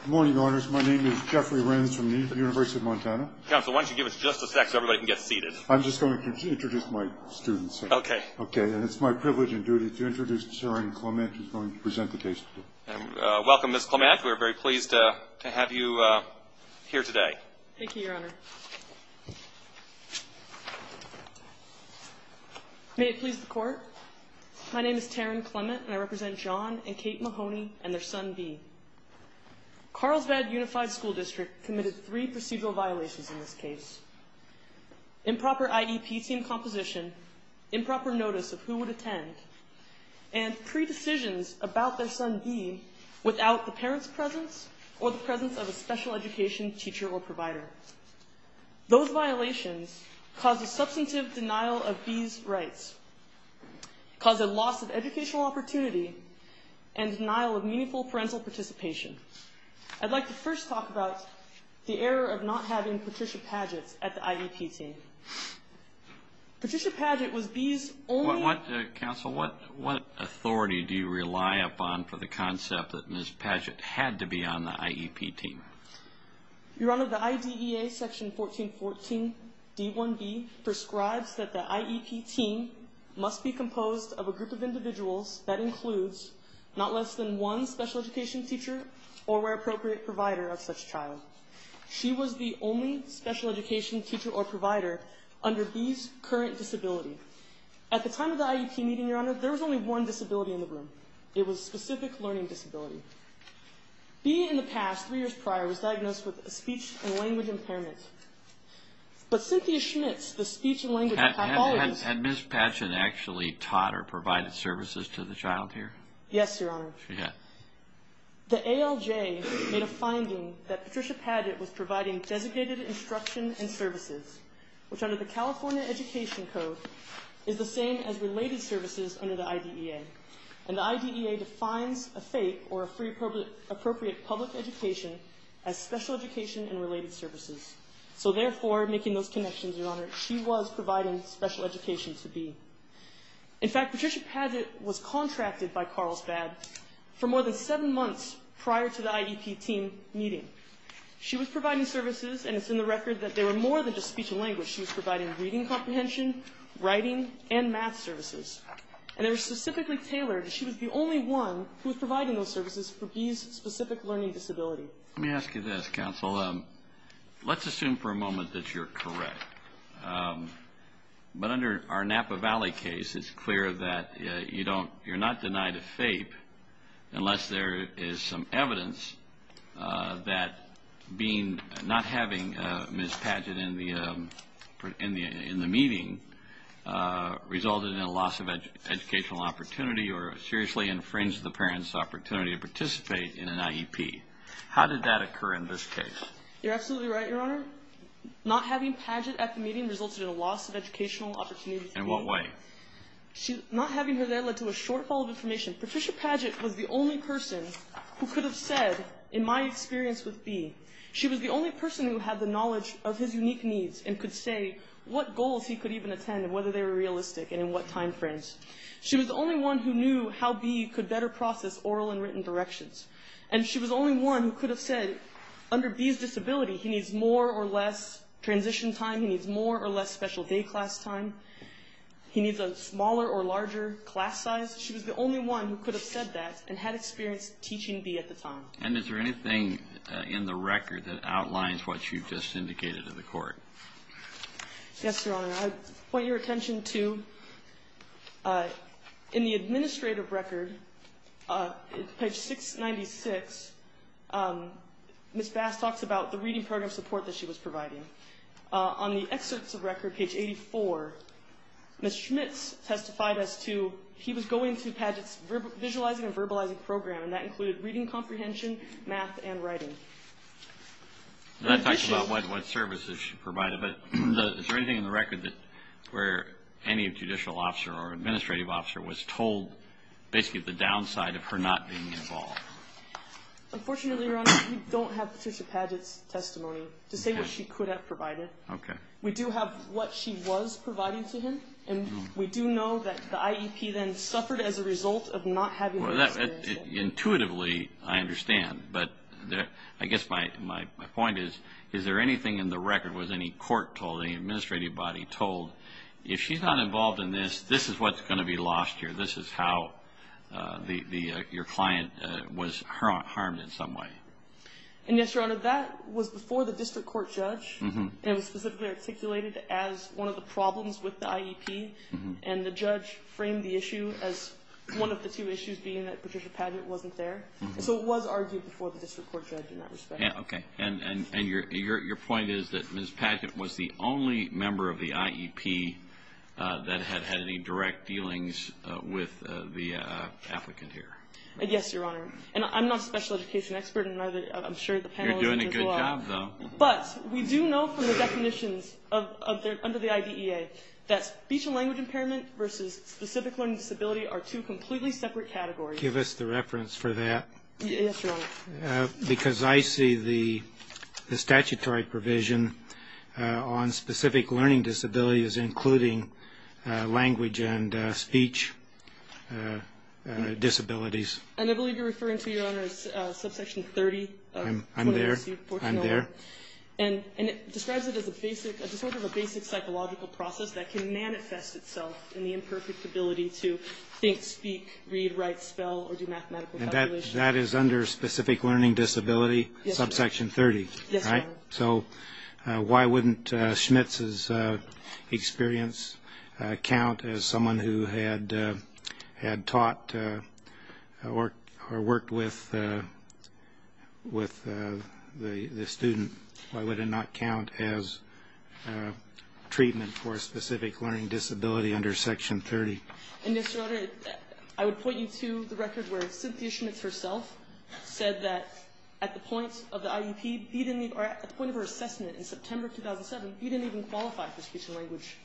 Good morning, Your Honors. My name is Jeffrey Renz from the University of Montana. Counsel, why don't you give us just a sec so everybody can get seated. I'm just going to introduce my students, sir. Okay. Okay, and it's my privilege and duty to introduce Taryn Clement, who's going to present the case today. Welcome, Ms. Clement. We're very pleased to have you here today. Thank you, Your Honor. May it please the Court, my name is Taryn Clement, and I represent John and Kate Mahoney and their son, B. Carlsbad Unified School District committed three procedural violations in this case. Improper IEP team composition, improper notice of who would attend, and pre-decisions about their son, B, without the parent's presence or the presence of a special education teacher or provider. Those violations caused a substantive denial of B's rights, caused a loss of educational opportunity, and denial of meaningful parental participation. I'd like to first talk about the error of not having Patricia Padgett at the IEP team. Patricia Padgett was B's only... Counsel, what authority do you rely upon for the concept that Ms. Padgett had to be on the IEP team? Your Honor, the IDEA section 1414 D1B prescribes that the IEP team must be composed of a group of individuals that includes not less than one special education teacher or, where appropriate, provider of such child. She was the only special education teacher or provider under B's current disability. At the time of the IEP meeting, Your Honor, there was only one disability in the room. It was a specific learning disability. B, in the past, three years prior, was diagnosed with a speech and language impairment. But Cynthia Schmitz, the speech and language pathologist... Yes, Your Honor. The ALJ made a finding that Patricia Padgett was providing designated instruction and services, which under the California Education Code is the same as related services under the IDEA. And the IDEA defines a FAPE, or a Free Appropriate Public Education, as special education and related services. So therefore, making those connections, Your Honor, she was providing special education to B. In fact, Patricia Padgett was contracted by Carlsbad for more than seven months prior to the IEP team meeting. She was providing services, and it's in the record that they were more than just speech and language. She was providing reading comprehension, writing, and math services. And they were specifically tailored, and she was the only one who was providing those services for B's specific learning disability. Let me ask you this, counsel. Let's assume for a moment that you're correct. But under our Napa Valley case, it's clear that you're not denied a FAPE unless there is some evidence that not having Ms. Padgett in the meeting resulted in a loss of educational opportunity or seriously infringed the parent's opportunity to participate in an IEP. How did that occur in this case? You're absolutely right, Your Honor. Not having Padgett at the meeting resulted in a loss of educational opportunity. In what way? Not having her there led to a shortfall of information. Patricia Padgett was the only person who could have said, in my experience with B, she was the only person who had the knowledge of his unique needs and could say what goals he could even attend and whether they were realistic and in what time frames. She was the only one who knew how B could better process oral and written directions. And she was the only one who could have said, under B's disability, he needs more or less transition time, he needs more or less special day class time, he needs a smaller or larger class size. She was the only one who could have said that and had experience teaching B at the time. And is there anything in the record that outlines what you've just indicated to the Court? Yes, Your Honor. Your Honor, I'd point your attention to, in the administrative record, page 696, Ms. Bass talks about the reading program support that she was providing. On the excerpts of record, page 84, Ms. Schmitz testified as to, he was going to Padgett's visualizing and verbalizing program, and that included reading comprehension, math, and writing. That talks about what services she provided, but is there anything in the record where any judicial officer or administrative officer was told basically the downside of her not being involved? Unfortunately, Your Honor, we don't have Patricia Padgett's testimony to say what she could have provided. We do have what she was providing to him, and we do know that the IEP then suffered as a result of not having those experiences. Intuitively, I understand, but I guess my point is, is there anything in the record was any court told, any administrative body told, if she's not involved in this, this is what's going to be lost here, this is how your client was harmed in some way? And yes, Your Honor, that was before the district court judge. It was specifically articulated as one of the problems with the IEP, and the judge framed the issue as one of the two issues, being that Patricia Padgett wasn't there. So it was argued before the district court judge in that respect. Okay, and your point is that Ms. Padgett was the only member of the IEP that had had any direct dealings with the applicant here? Yes, Your Honor, and I'm not a special education expert, and I'm sure the panel isn't as well. You're doing a good job, though. But we do know from the definitions under the IDEA that speech and language impairment versus specific learning disability are two completely separate categories. Give us the reference for that. Yes, Your Honor. Because I see the statutory provision on specific learning disabilities including language and speech disabilities. And I believe you're referring to, Your Honor, subsection 30 of 21C-1401. I'm there, I'm there. And it describes it as a sort of a basic psychological process that can manifest itself in the imperfect ability to think, speak, read, write, spell, or do mathematical calculations. And that is under specific learning disability subsection 30, right? Yes, Your Honor. So why wouldn't Schmitz's experience count as someone who had taught or worked with the student? Why would it not count as treatment for a specific learning disability under section 30? And, Mr. Oda, I would point you to the record where Cynthia Schmitz herself said that at the point of her assessment in September 2007, he didn't even qualify for speech and language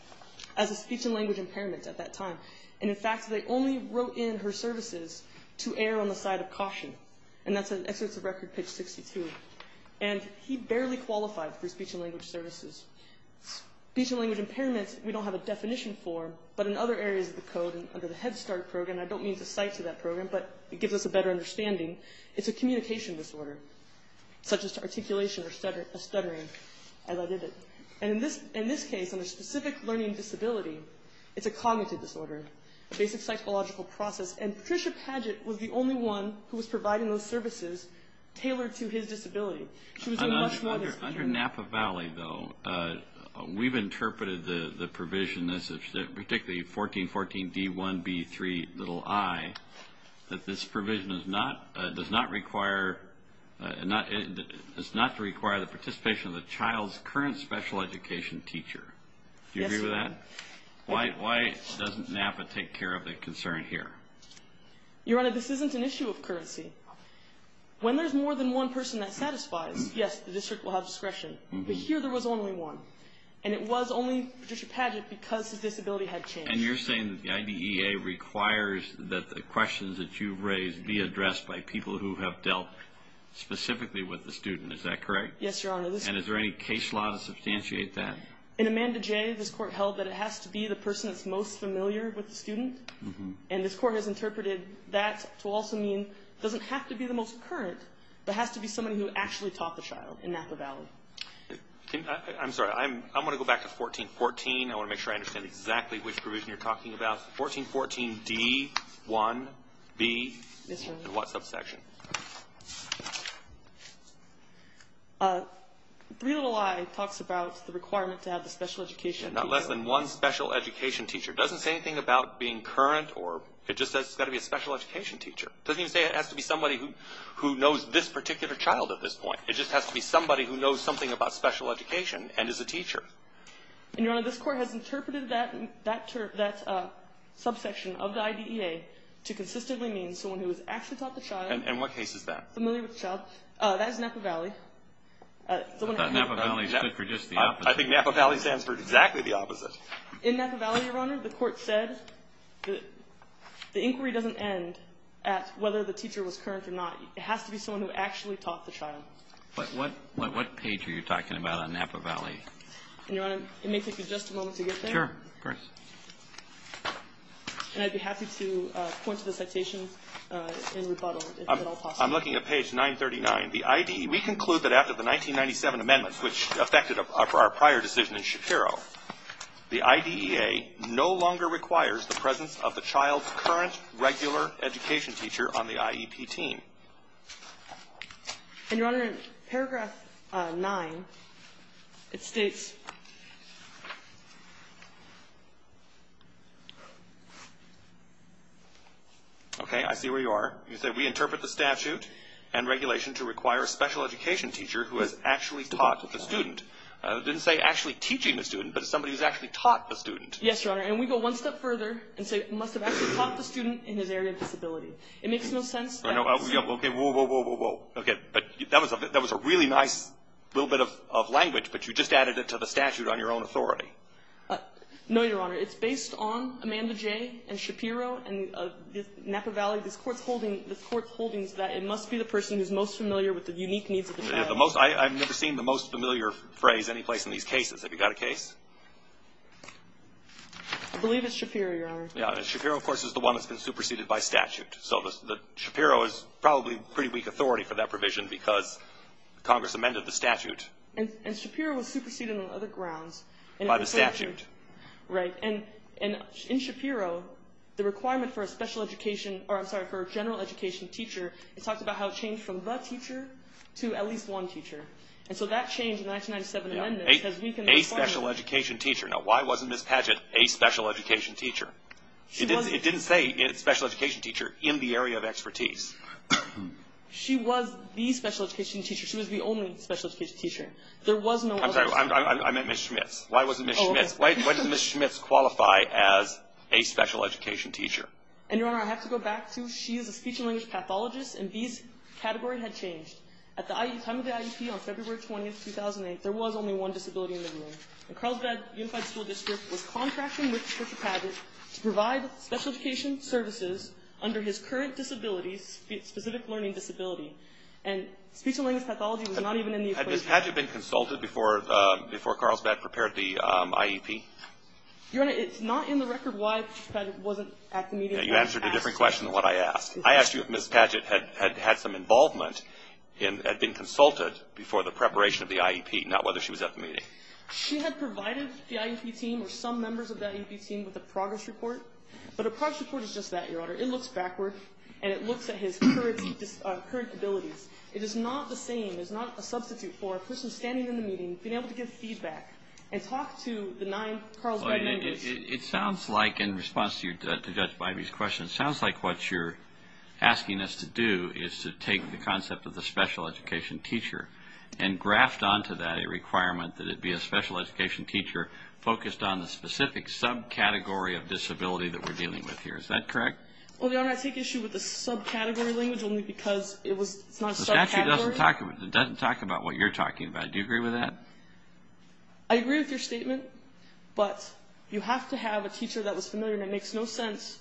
as a speech and language impairment at that time. And, in fact, they only wrote in her services to err on the side of caution. And that's an excerpt of Record Pitch 62. And he barely qualified for speech and language services. Speech and language impairments we don't have a definition for, but in other areas of the code under the Head Start program, I don't mean to cite to that program, but it gives us a better understanding, it's a communication disorder, such as articulation or stuttering, as I did it. And in this case, under specific learning disability, it's a cognitive disorder, a basic psychological process. And Patricia Padgett was the only one who was providing those services tailored to his disability. She was doing much more than that. Under Napa Valley, though, we've interpreted the provision, particularly 1414D1B3i, that this provision does not require the participation of the child's current special education teacher. Do you agree with that? Why doesn't Napa take care of the concern here? Your Honor, this isn't an issue of currency. When there's more than one person that satisfies, yes, the district will have discretion. But here there was only one. And it was only Patricia Padgett because his disability had changed. And you're saying that the IDEA requires that the questions that you've raised be addressed by people who have dealt specifically with the student, is that correct? Yes, Your Honor. And is there any case law to substantiate that? In Amanda J., this court held that it has to be the person that's most familiar with the student. And this court has interpreted that to also mean it doesn't have to be the most current, but has to be somebody who actually taught the child in Napa Valley. I'm sorry. I'm going to go back to 1414. I want to make sure I understand exactly which provision you're talking about. 1414D1B. Yes, Your Honor. And what subsection? 3.0i talks about the requirement to have the special education teacher. Not less than one special education teacher. It doesn't say anything about being current. It just says it's got to be a special education teacher. It doesn't even say it has to be somebody who knows this particular child at this point. It just has to be somebody who knows something about special education and is a teacher. And, Your Honor, this court has interpreted that subsection of the IDEA to consistently mean someone who has actually taught the child. And what case is that? Familiar with the child. That is Napa Valley. I thought Napa Valley stood for just the opposite. I think Napa Valley stands for exactly the opposite. In Napa Valley, Your Honor, the court said the inquiry doesn't end at whether the teacher was current or not. It has to be someone who actually taught the child. But what page are you talking about on Napa Valley? And, Your Honor, it may take you just a moment to get there. Sure. Of course. And I'd be happy to point to the citation in rebuttal, if at all possible. I'm looking at page 939. The IDEA, we conclude that after the 1997 amendments, which affected our prior decision in Shapiro, the IDEA no longer requires the presence of the child's current regular education teacher on the IEP team. And, Your Honor, in paragraph 9, it states. Okay. I see where you are. You said we interpret the statute and regulation to require a special education teacher who has actually taught the student. It didn't say actually teaching the student, but somebody who's actually taught the student. Yes, Your Honor. And we go one step further and say it must have actually taught the student in his area of disability. It makes no sense. Okay. Whoa, whoa, whoa, whoa, whoa. Okay. But that was a really nice little bit of language, but you just added it to the statute on your own authority. No, Your Honor. It's based on Amanda Jay and Shapiro and Napa Valley. This Court's holding is that it must be the person who's most familiar with the unique needs of the child. I've never seen the most familiar phrase anyplace in these cases. Have you got a case? I believe it's Shapiro, Your Honor. Shapiro, of course, is the one that's been superseded by statute. So Shapiro is probably pretty weak authority for that provision because Congress amended the statute. And Shapiro was superseded on other grounds. By the statute. Right. And in Shapiro, the requirement for a special education or, I'm sorry, for a general education teacher, it talks about how it changed from the teacher to at least one teacher. And so that changed in the 1997 amendments. A special education teacher. Now, why wasn't Ms. Padgett a special education teacher? It didn't say special education teacher in the area of expertise. She was the special education teacher. She was the only special education teacher. There was no other. I'm sorry. I meant Ms. Schmitz. Why wasn't Ms. Schmitz? Why does Ms. Schmitz qualify as a special education teacher? And, Your Honor, I have to go back to she is a speech and language pathologist. And these categories had changed. At the time of the IEP, on February 20, 2008, there was only one disability in the area. And Carlsbad Unified School District was contracting with Mr. Padgett to provide special education services under his current disability, specific learning disability. And speech and language pathology was not even in the equation. Had Ms. Padgett been consulted before Carlsbad prepared the IEP? Your Honor, it's not in the record why Ms. Padgett wasn't at the meeting. You answered a different question than what I asked. I asked you if Ms. Padgett had had some involvement and had been consulted before the preparation of the IEP, not whether she was at the meeting. She had provided the IEP team or some members of that IEP team with a progress report. But a progress report is just that, Your Honor. It looks backward. And it looks at his current disabilities. It is not the same. It is not a substitute for a person standing in the meeting, being able to give feedback, and talk to the nine Carlsbad members. It sounds like, in response to Judge Bybee's question, it sounds like what you're asking us to do is to take the concept of the special education teacher and graft onto that a requirement that it be a special education teacher focused on the specific subcategory of disability that we're dealing with here. Is that correct? Well, Your Honor, I take issue with the subcategory language only because it's not a subcategory. The statute doesn't talk about what you're talking about. Do you agree with that? I agree with your statement, but you have to have a teacher that was familiar and it makes no sense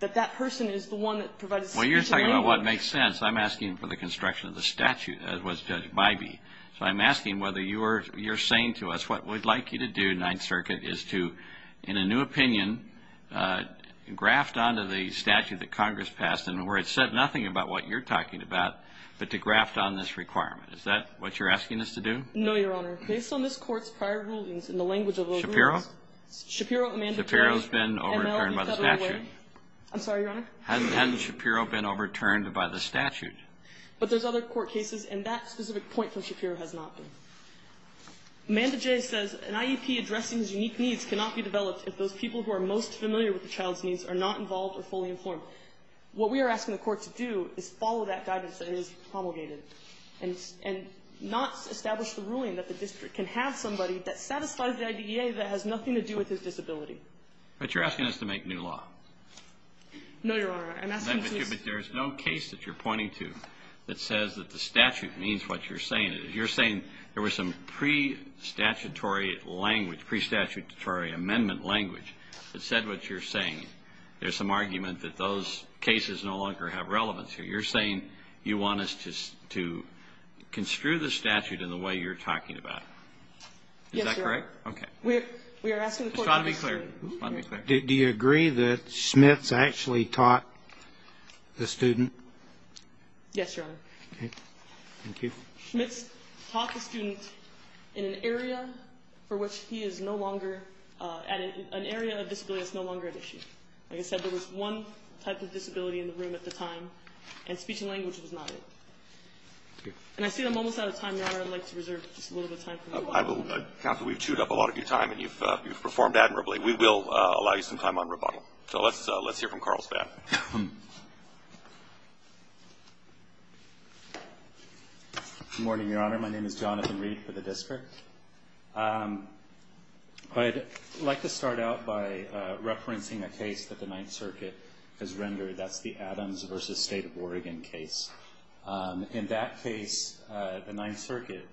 that that person is the one that provides the speech and language. Well, you're talking about what makes sense. I'm asking for the construction of the statute, as was Judge Bybee. So I'm asking whether you're saying to us what we'd like you to do, Ninth Circuit, is to, in a new opinion, graft onto the statute that Congress passed and where it said nothing about what you're talking about, but to graft on this requirement. Is that what you're asking us to do? No, Your Honor. Based on this Court's prior rulings and the language of those rulings. Shapiro? Shapiro, Amanda J. Shapiro's been overturned by the statute. I'm sorry, Your Honor. Hadn't Shapiro been overturned by the statute? But there's other court cases, and that specific point from Shapiro has not been. Amanda J. says, An IEP addressing these unique needs cannot be developed if those people who are most familiar with the child's needs are not involved or fully informed. What we are asking the Court to do is follow that guidance that is promulgated. And not establish the ruling that the district can have somebody that satisfies the IDEA that has nothing to do with his disability. But you're asking us to make new law. No, Your Honor. I'm asking you to. But there's no case that you're pointing to that says that the statute means what you're saying. You're saying there was some pre-statutory language, pre-statutory amendment language that said what you're saying. There's some argument that those cases no longer have relevance here. You're saying you want us to construe the statute in the way you're talking about. Yes, Your Honor. Is that correct? We are asking the Court to do so. Just try to be clear. Do you agree that Schmitz actually taught the student? Yes, Your Honor. Okay. Thank you. Schmitz taught the student in an area for which he is no longer at an area of disability that's no longer at issue. Like I said, there was one type of disability in the room at the time, and speech and language was not it. And I see I'm almost out of time, Your Honor. I'd like to reserve just a little bit of time for you all. Counsel, we've chewed up a lot of your time, and you've performed admirably. We will allow you some time on rebuttal. So let's hear from Carl Span. Good morning, Your Honor. My name is Jonathan Reed for the district. I'd like to start out by referencing a case that the Ninth Circuit has rendered. That's the Adams v. State of Oregon case. In that case, the Ninth Circuit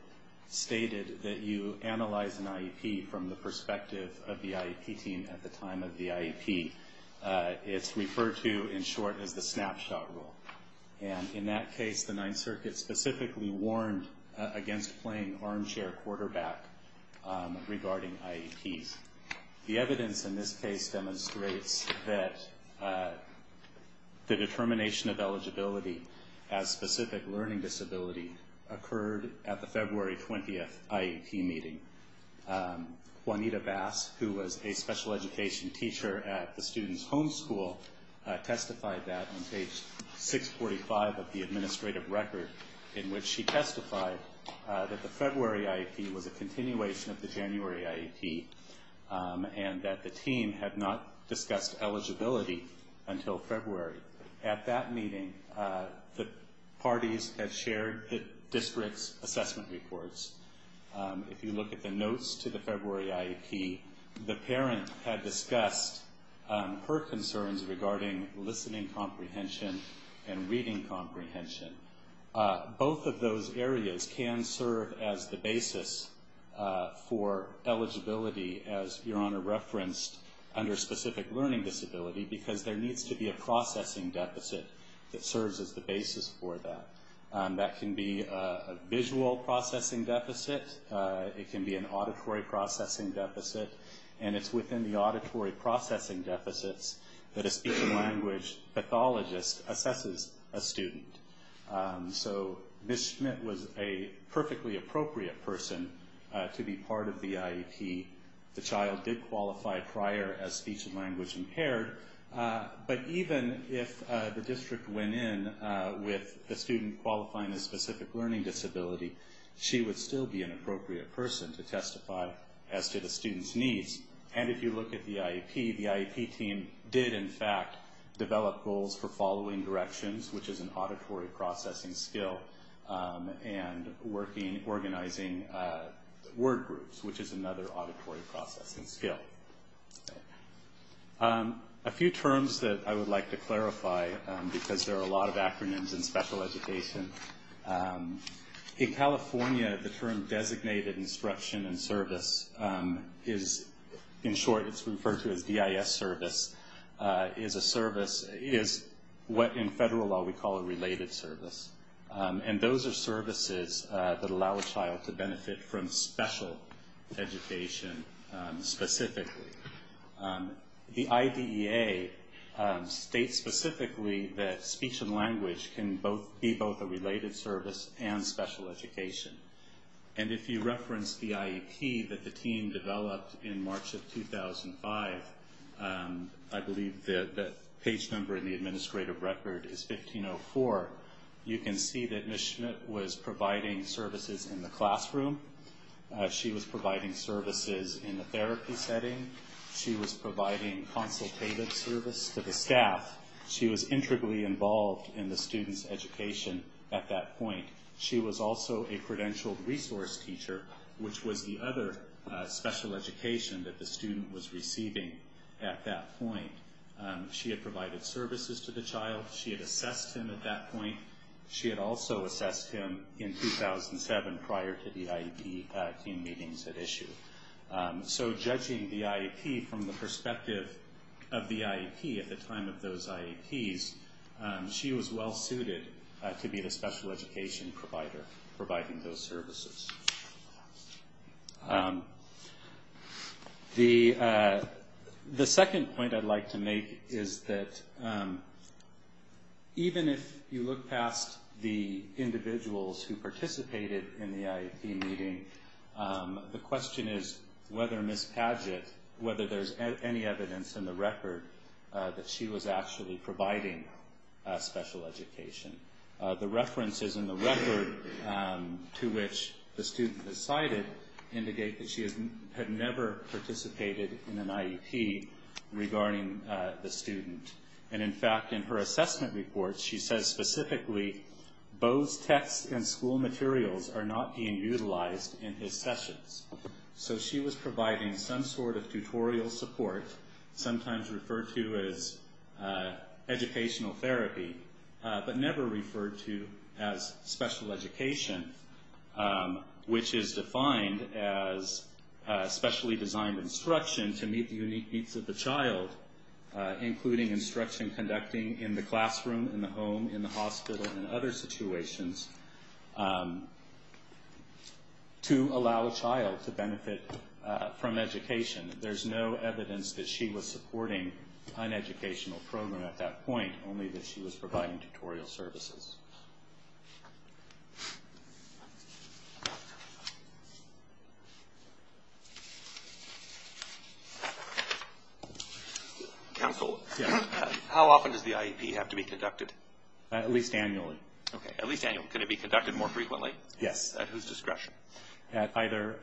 stated that you analyze an IEP from the perspective of the IEP team at the time of the IEP. It's referred to, in short, as the snapshot rule. And in that case, the Ninth Circuit specifically warned against playing armchair quarterback regarding IEPs. The evidence in this case demonstrates that the determination of eligibility as specific learning disability occurred at the February 20th IEP meeting. Juanita Bass, who was a special education teacher at the student's home school, testified that on page 645 of the administrative record in which she testified that the February IEP was a continuation of the January IEP and that the team had not discussed eligibility until February. At that meeting, the parties had shared the district's assessment reports. If you look at the notes to the February IEP, the parent had discussed her concerns regarding listening comprehension and reading comprehension. Both of those areas can serve as the basis for eligibility, as Your Honor referenced, under specific learning disability because there needs to be a processing deficit that serves as the basis for that. That can be a visual processing deficit. It can be an auditory processing deficit. And it's within the auditory processing deficits that a speech and language pathologist assesses a student. So Ms. Schmidt was a perfectly appropriate person to be part of the IEP. The child did qualify prior as speech and language impaired. But even if the district went in with a student qualifying as specific learning disability, she would still be an appropriate person to testify as to the student's needs. And if you look at the IEP, the IEP team did, in fact, develop goals for following directions, which is an auditory processing skill, and organizing word groups, which is another auditory processing skill. A few terms that I would like to clarify, because there are a lot of acronyms in special education. In California, the term designated instruction and service is, in short, it's referred to as DIS service, is a service, is what in federal law we call a related service. And those are services that allow a child to benefit from special education specifically. The IDEA states specifically that speech and language can be both a related service and special education. And if you reference the IEP that the team developed in March of 2005, I believe the page number in the administrative record is 1504, you can see that Ms. Schmidt was providing services in the classroom. She was providing services in the therapy setting. She was providing consultative service to the staff. She was intricately involved in the student's education at that point. She was also a credentialed resource teacher, which was the other special education that the student was receiving at that point. She had provided services to the child. She had assessed him at that point. She had also assessed him in 2007 prior to the IEP team meetings at issue. So judging the IEP from the perspective of the IEP at the time of those IEPs, she was well-suited to be the special education provider providing those services. The second point I'd like to make is that even if you look past the individuals who participated in the IEP meeting, the question is whether Ms. Padgett, whether there's any evidence in the record that she was actually providing special education. The references in the record to which the student has cited indicate that she had never participated in an IEP regarding the student. And in fact, in her assessment report, she says specifically, both text and school materials are not being utilized in his sessions. So she was providing some sort of tutorial support, sometimes referred to as educational therapy, but never referred to as special education, which is defined as specially designed instruction to meet the unique needs of the child, including instruction conducting in the classroom, in the home, in the hospital, and other situations to allow a child to benefit from education. There's no evidence that she was supporting an educational program at that point, only that she was providing tutorial services. Counsel, how often does the IEP have to be conducted? At least annually. At least annually. Can it be conducted more frequently? Yes. At whose discretion? At either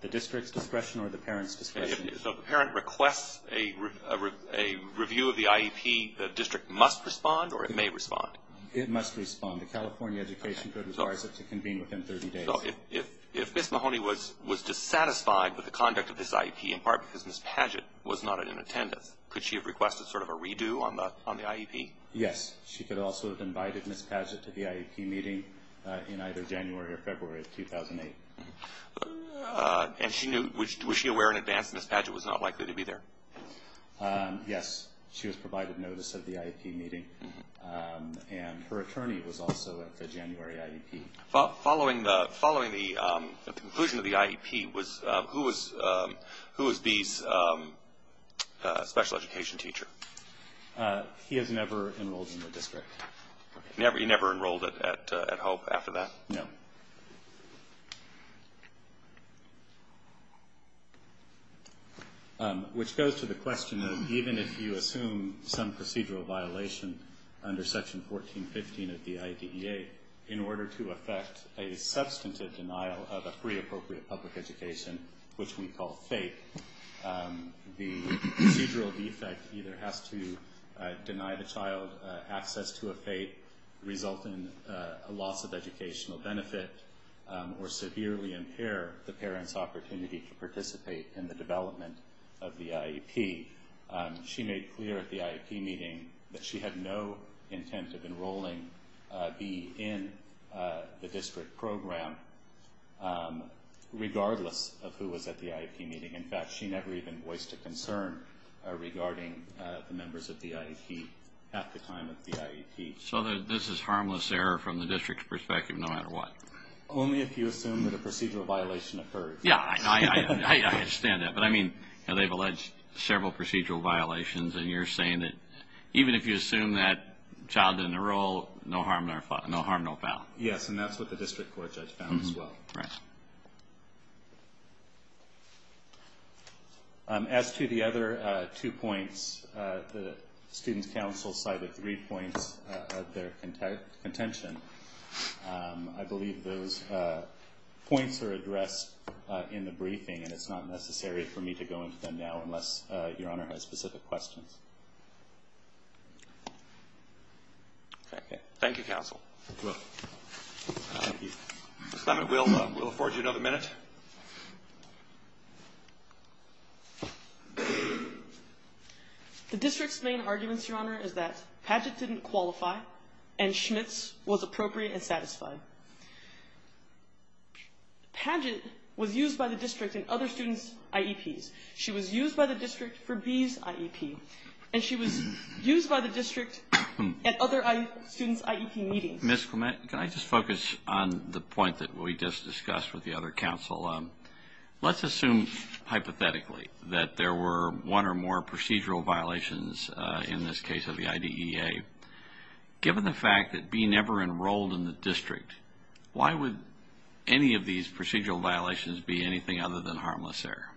the district's discretion or the parent's discretion. If the parent requests a review of the IEP, the district must respond or it may respond? It must respond. The California Education Code requires it to convene within 30 days. If Ms. Mahoney was dissatisfied with the conduct of this IEP, in part because Ms. Padgett was not in attendance, could she have requested sort of a redo on the IEP? Yes. She could also have invited Ms. Padgett to the IEP meeting in either January or February of 2008. And was she aware in advance that Ms. Padgett was not likely to be there? Yes. She was provided notice of the IEP meeting, and her attorney was also at the January IEP. Following the conclusion of the IEP, who was B's special education teacher? He has never enrolled in the district. He never enrolled at Hope after that? No. Which goes to the question of even if you assume some procedural violation under Section 1415 of the IDEA, in order to effect a substantive denial of a free appropriate public education, which we call FAPE, the procedural defect either has to deny the child access to a FAPE, result in a loss of educational benefit, or severely impair the parent's opportunity to participate in the development of the IEP. She made clear at the IEP meeting that she had no intent of enrolling B in the district program, regardless of who was at the IEP meeting. In fact, she never even voiced a concern regarding the members of the IEP at the time of the IEP. So this is harmless error from the district's perspective no matter what? Only if you assume that a procedural violation occurred. Yeah, I understand that. But I mean, they've alleged several procedural violations, and you're saying that even if you assume that child didn't enroll, no harm, no foul. As to the other two points, the student council cited three points of their contention. I believe those points are addressed in the briefing, and it's not necessary for me to go into them now unless Your Honor has specific questions. Okay. Thank you, counsel. You're welcome. Thank you. Ms. Lambert, we'll afford you another minute. The district's main arguments, Your Honor, is that Padgett didn't qualify and Schmitz was appropriate and satisfied. Padgett was used by the district in other students' IEPs. She was used by the district for B's IEP, and she was used by the district at other students' IEP meetings. Ms. Clement, can I just focus on the point that we just discussed with the other counsel? Let's assume hypothetically that there were one or more procedural violations in this case of the IDEA. Given the fact that B never enrolled in the district, why would any of these procedural violations be anything other than harmless error?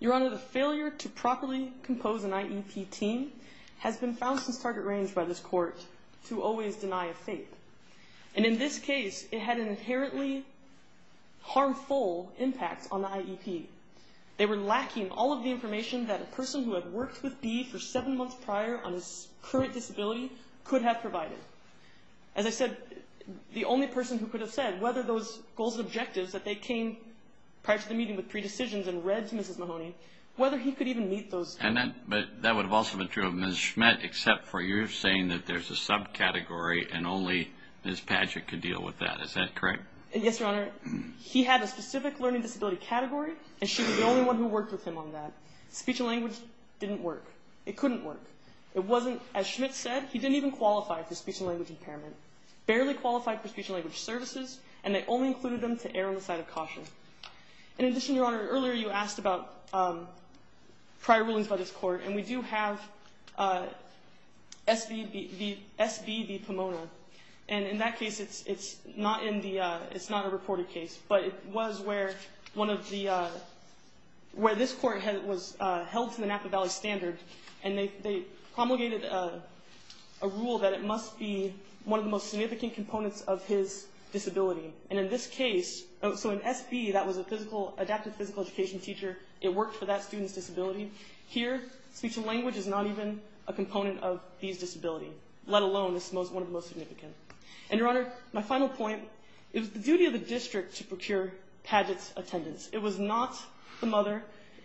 Your Honor, the failure to properly compose an IEP team has been found since target range by this court to always deny a fake. And in this case, it had an inherently harmful impact on the IEP. They were lacking all of the information that a person who had worked with B for seven months prior on his current disability could have provided. As I said, the only person who could have said whether those goals and objectives that they came prior to the meeting with predecisions and read to Mrs. Mahoney, whether he could even meet those goals. But that would have also been true of Ms. Schmidt, except for you saying that there's a subcategory and only Ms. Padgett could deal with that. Is that correct? Yes, Your Honor. He had a specific learning disability category, and she was the only one who worked with him on that. Speech and language didn't work. It couldn't work. It wasn't, as Schmidt said, he didn't even qualify for speech and language impairment, barely qualified for speech and language services, and they only included him to err on the side of caution. In addition, Your Honor, earlier you asked about prior rulings by this court, and we do have SB v. Pomona. And in that case, it's not a reported case, but it was where this court was held to the Napa Valley standard, and they promulgated a rule that it must be one of the most significant components of his disability. And in this case, so in SB, that was an adapted physical education teacher. It worked for that student's disability. Here, speech and language is not even a component of these disabilities, let alone one of the most significant. And, Your Honor, my final point, it was the duty of the district to procure Padgett's attendance. It was not the mother.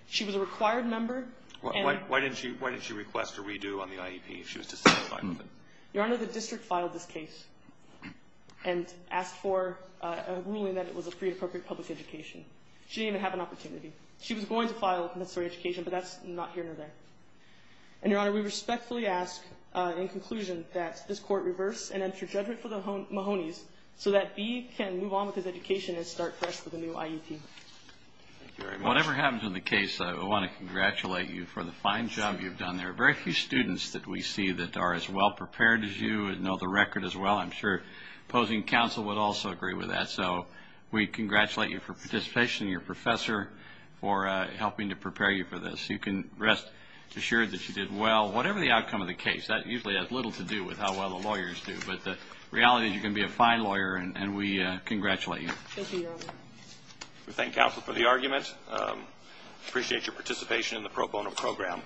She was a required member. Why didn't she request a redo on the IEP if she was disqualified? Your Honor, the district filed this case and asked for a ruling that it was a free and appropriate public education. She didn't even have an opportunity. She was going to file a necessary education, but that's not here nor there. And, Your Honor, we respectfully ask in conclusion that this court reverse and enter judgment for the Mahonies so that B can move on with his education and start fresh with the new IEP. Thank you very much. Whatever happens in the case, I want to congratulate you for the fine job you've done. There are very few students that we see that are as well prepared as you and know the record as well. I'm sure opposing counsel would also agree with that. So we congratulate you for participation and your professor for helping to prepare you for this. You can rest assured that you did well. Whatever the outcome of the case, that usually has little to do with how well the lawyers do. But the reality is you're going to be a fine lawyer, and we congratulate you. Thank you, Your Honor. We thank counsel for the argument. Appreciate your participation in the pro bono program.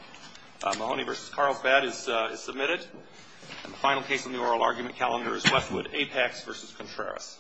Mahoney v. Carlsbad is submitted. And the final case on the oral argument calendar is Westwood, Apex v. Contreras.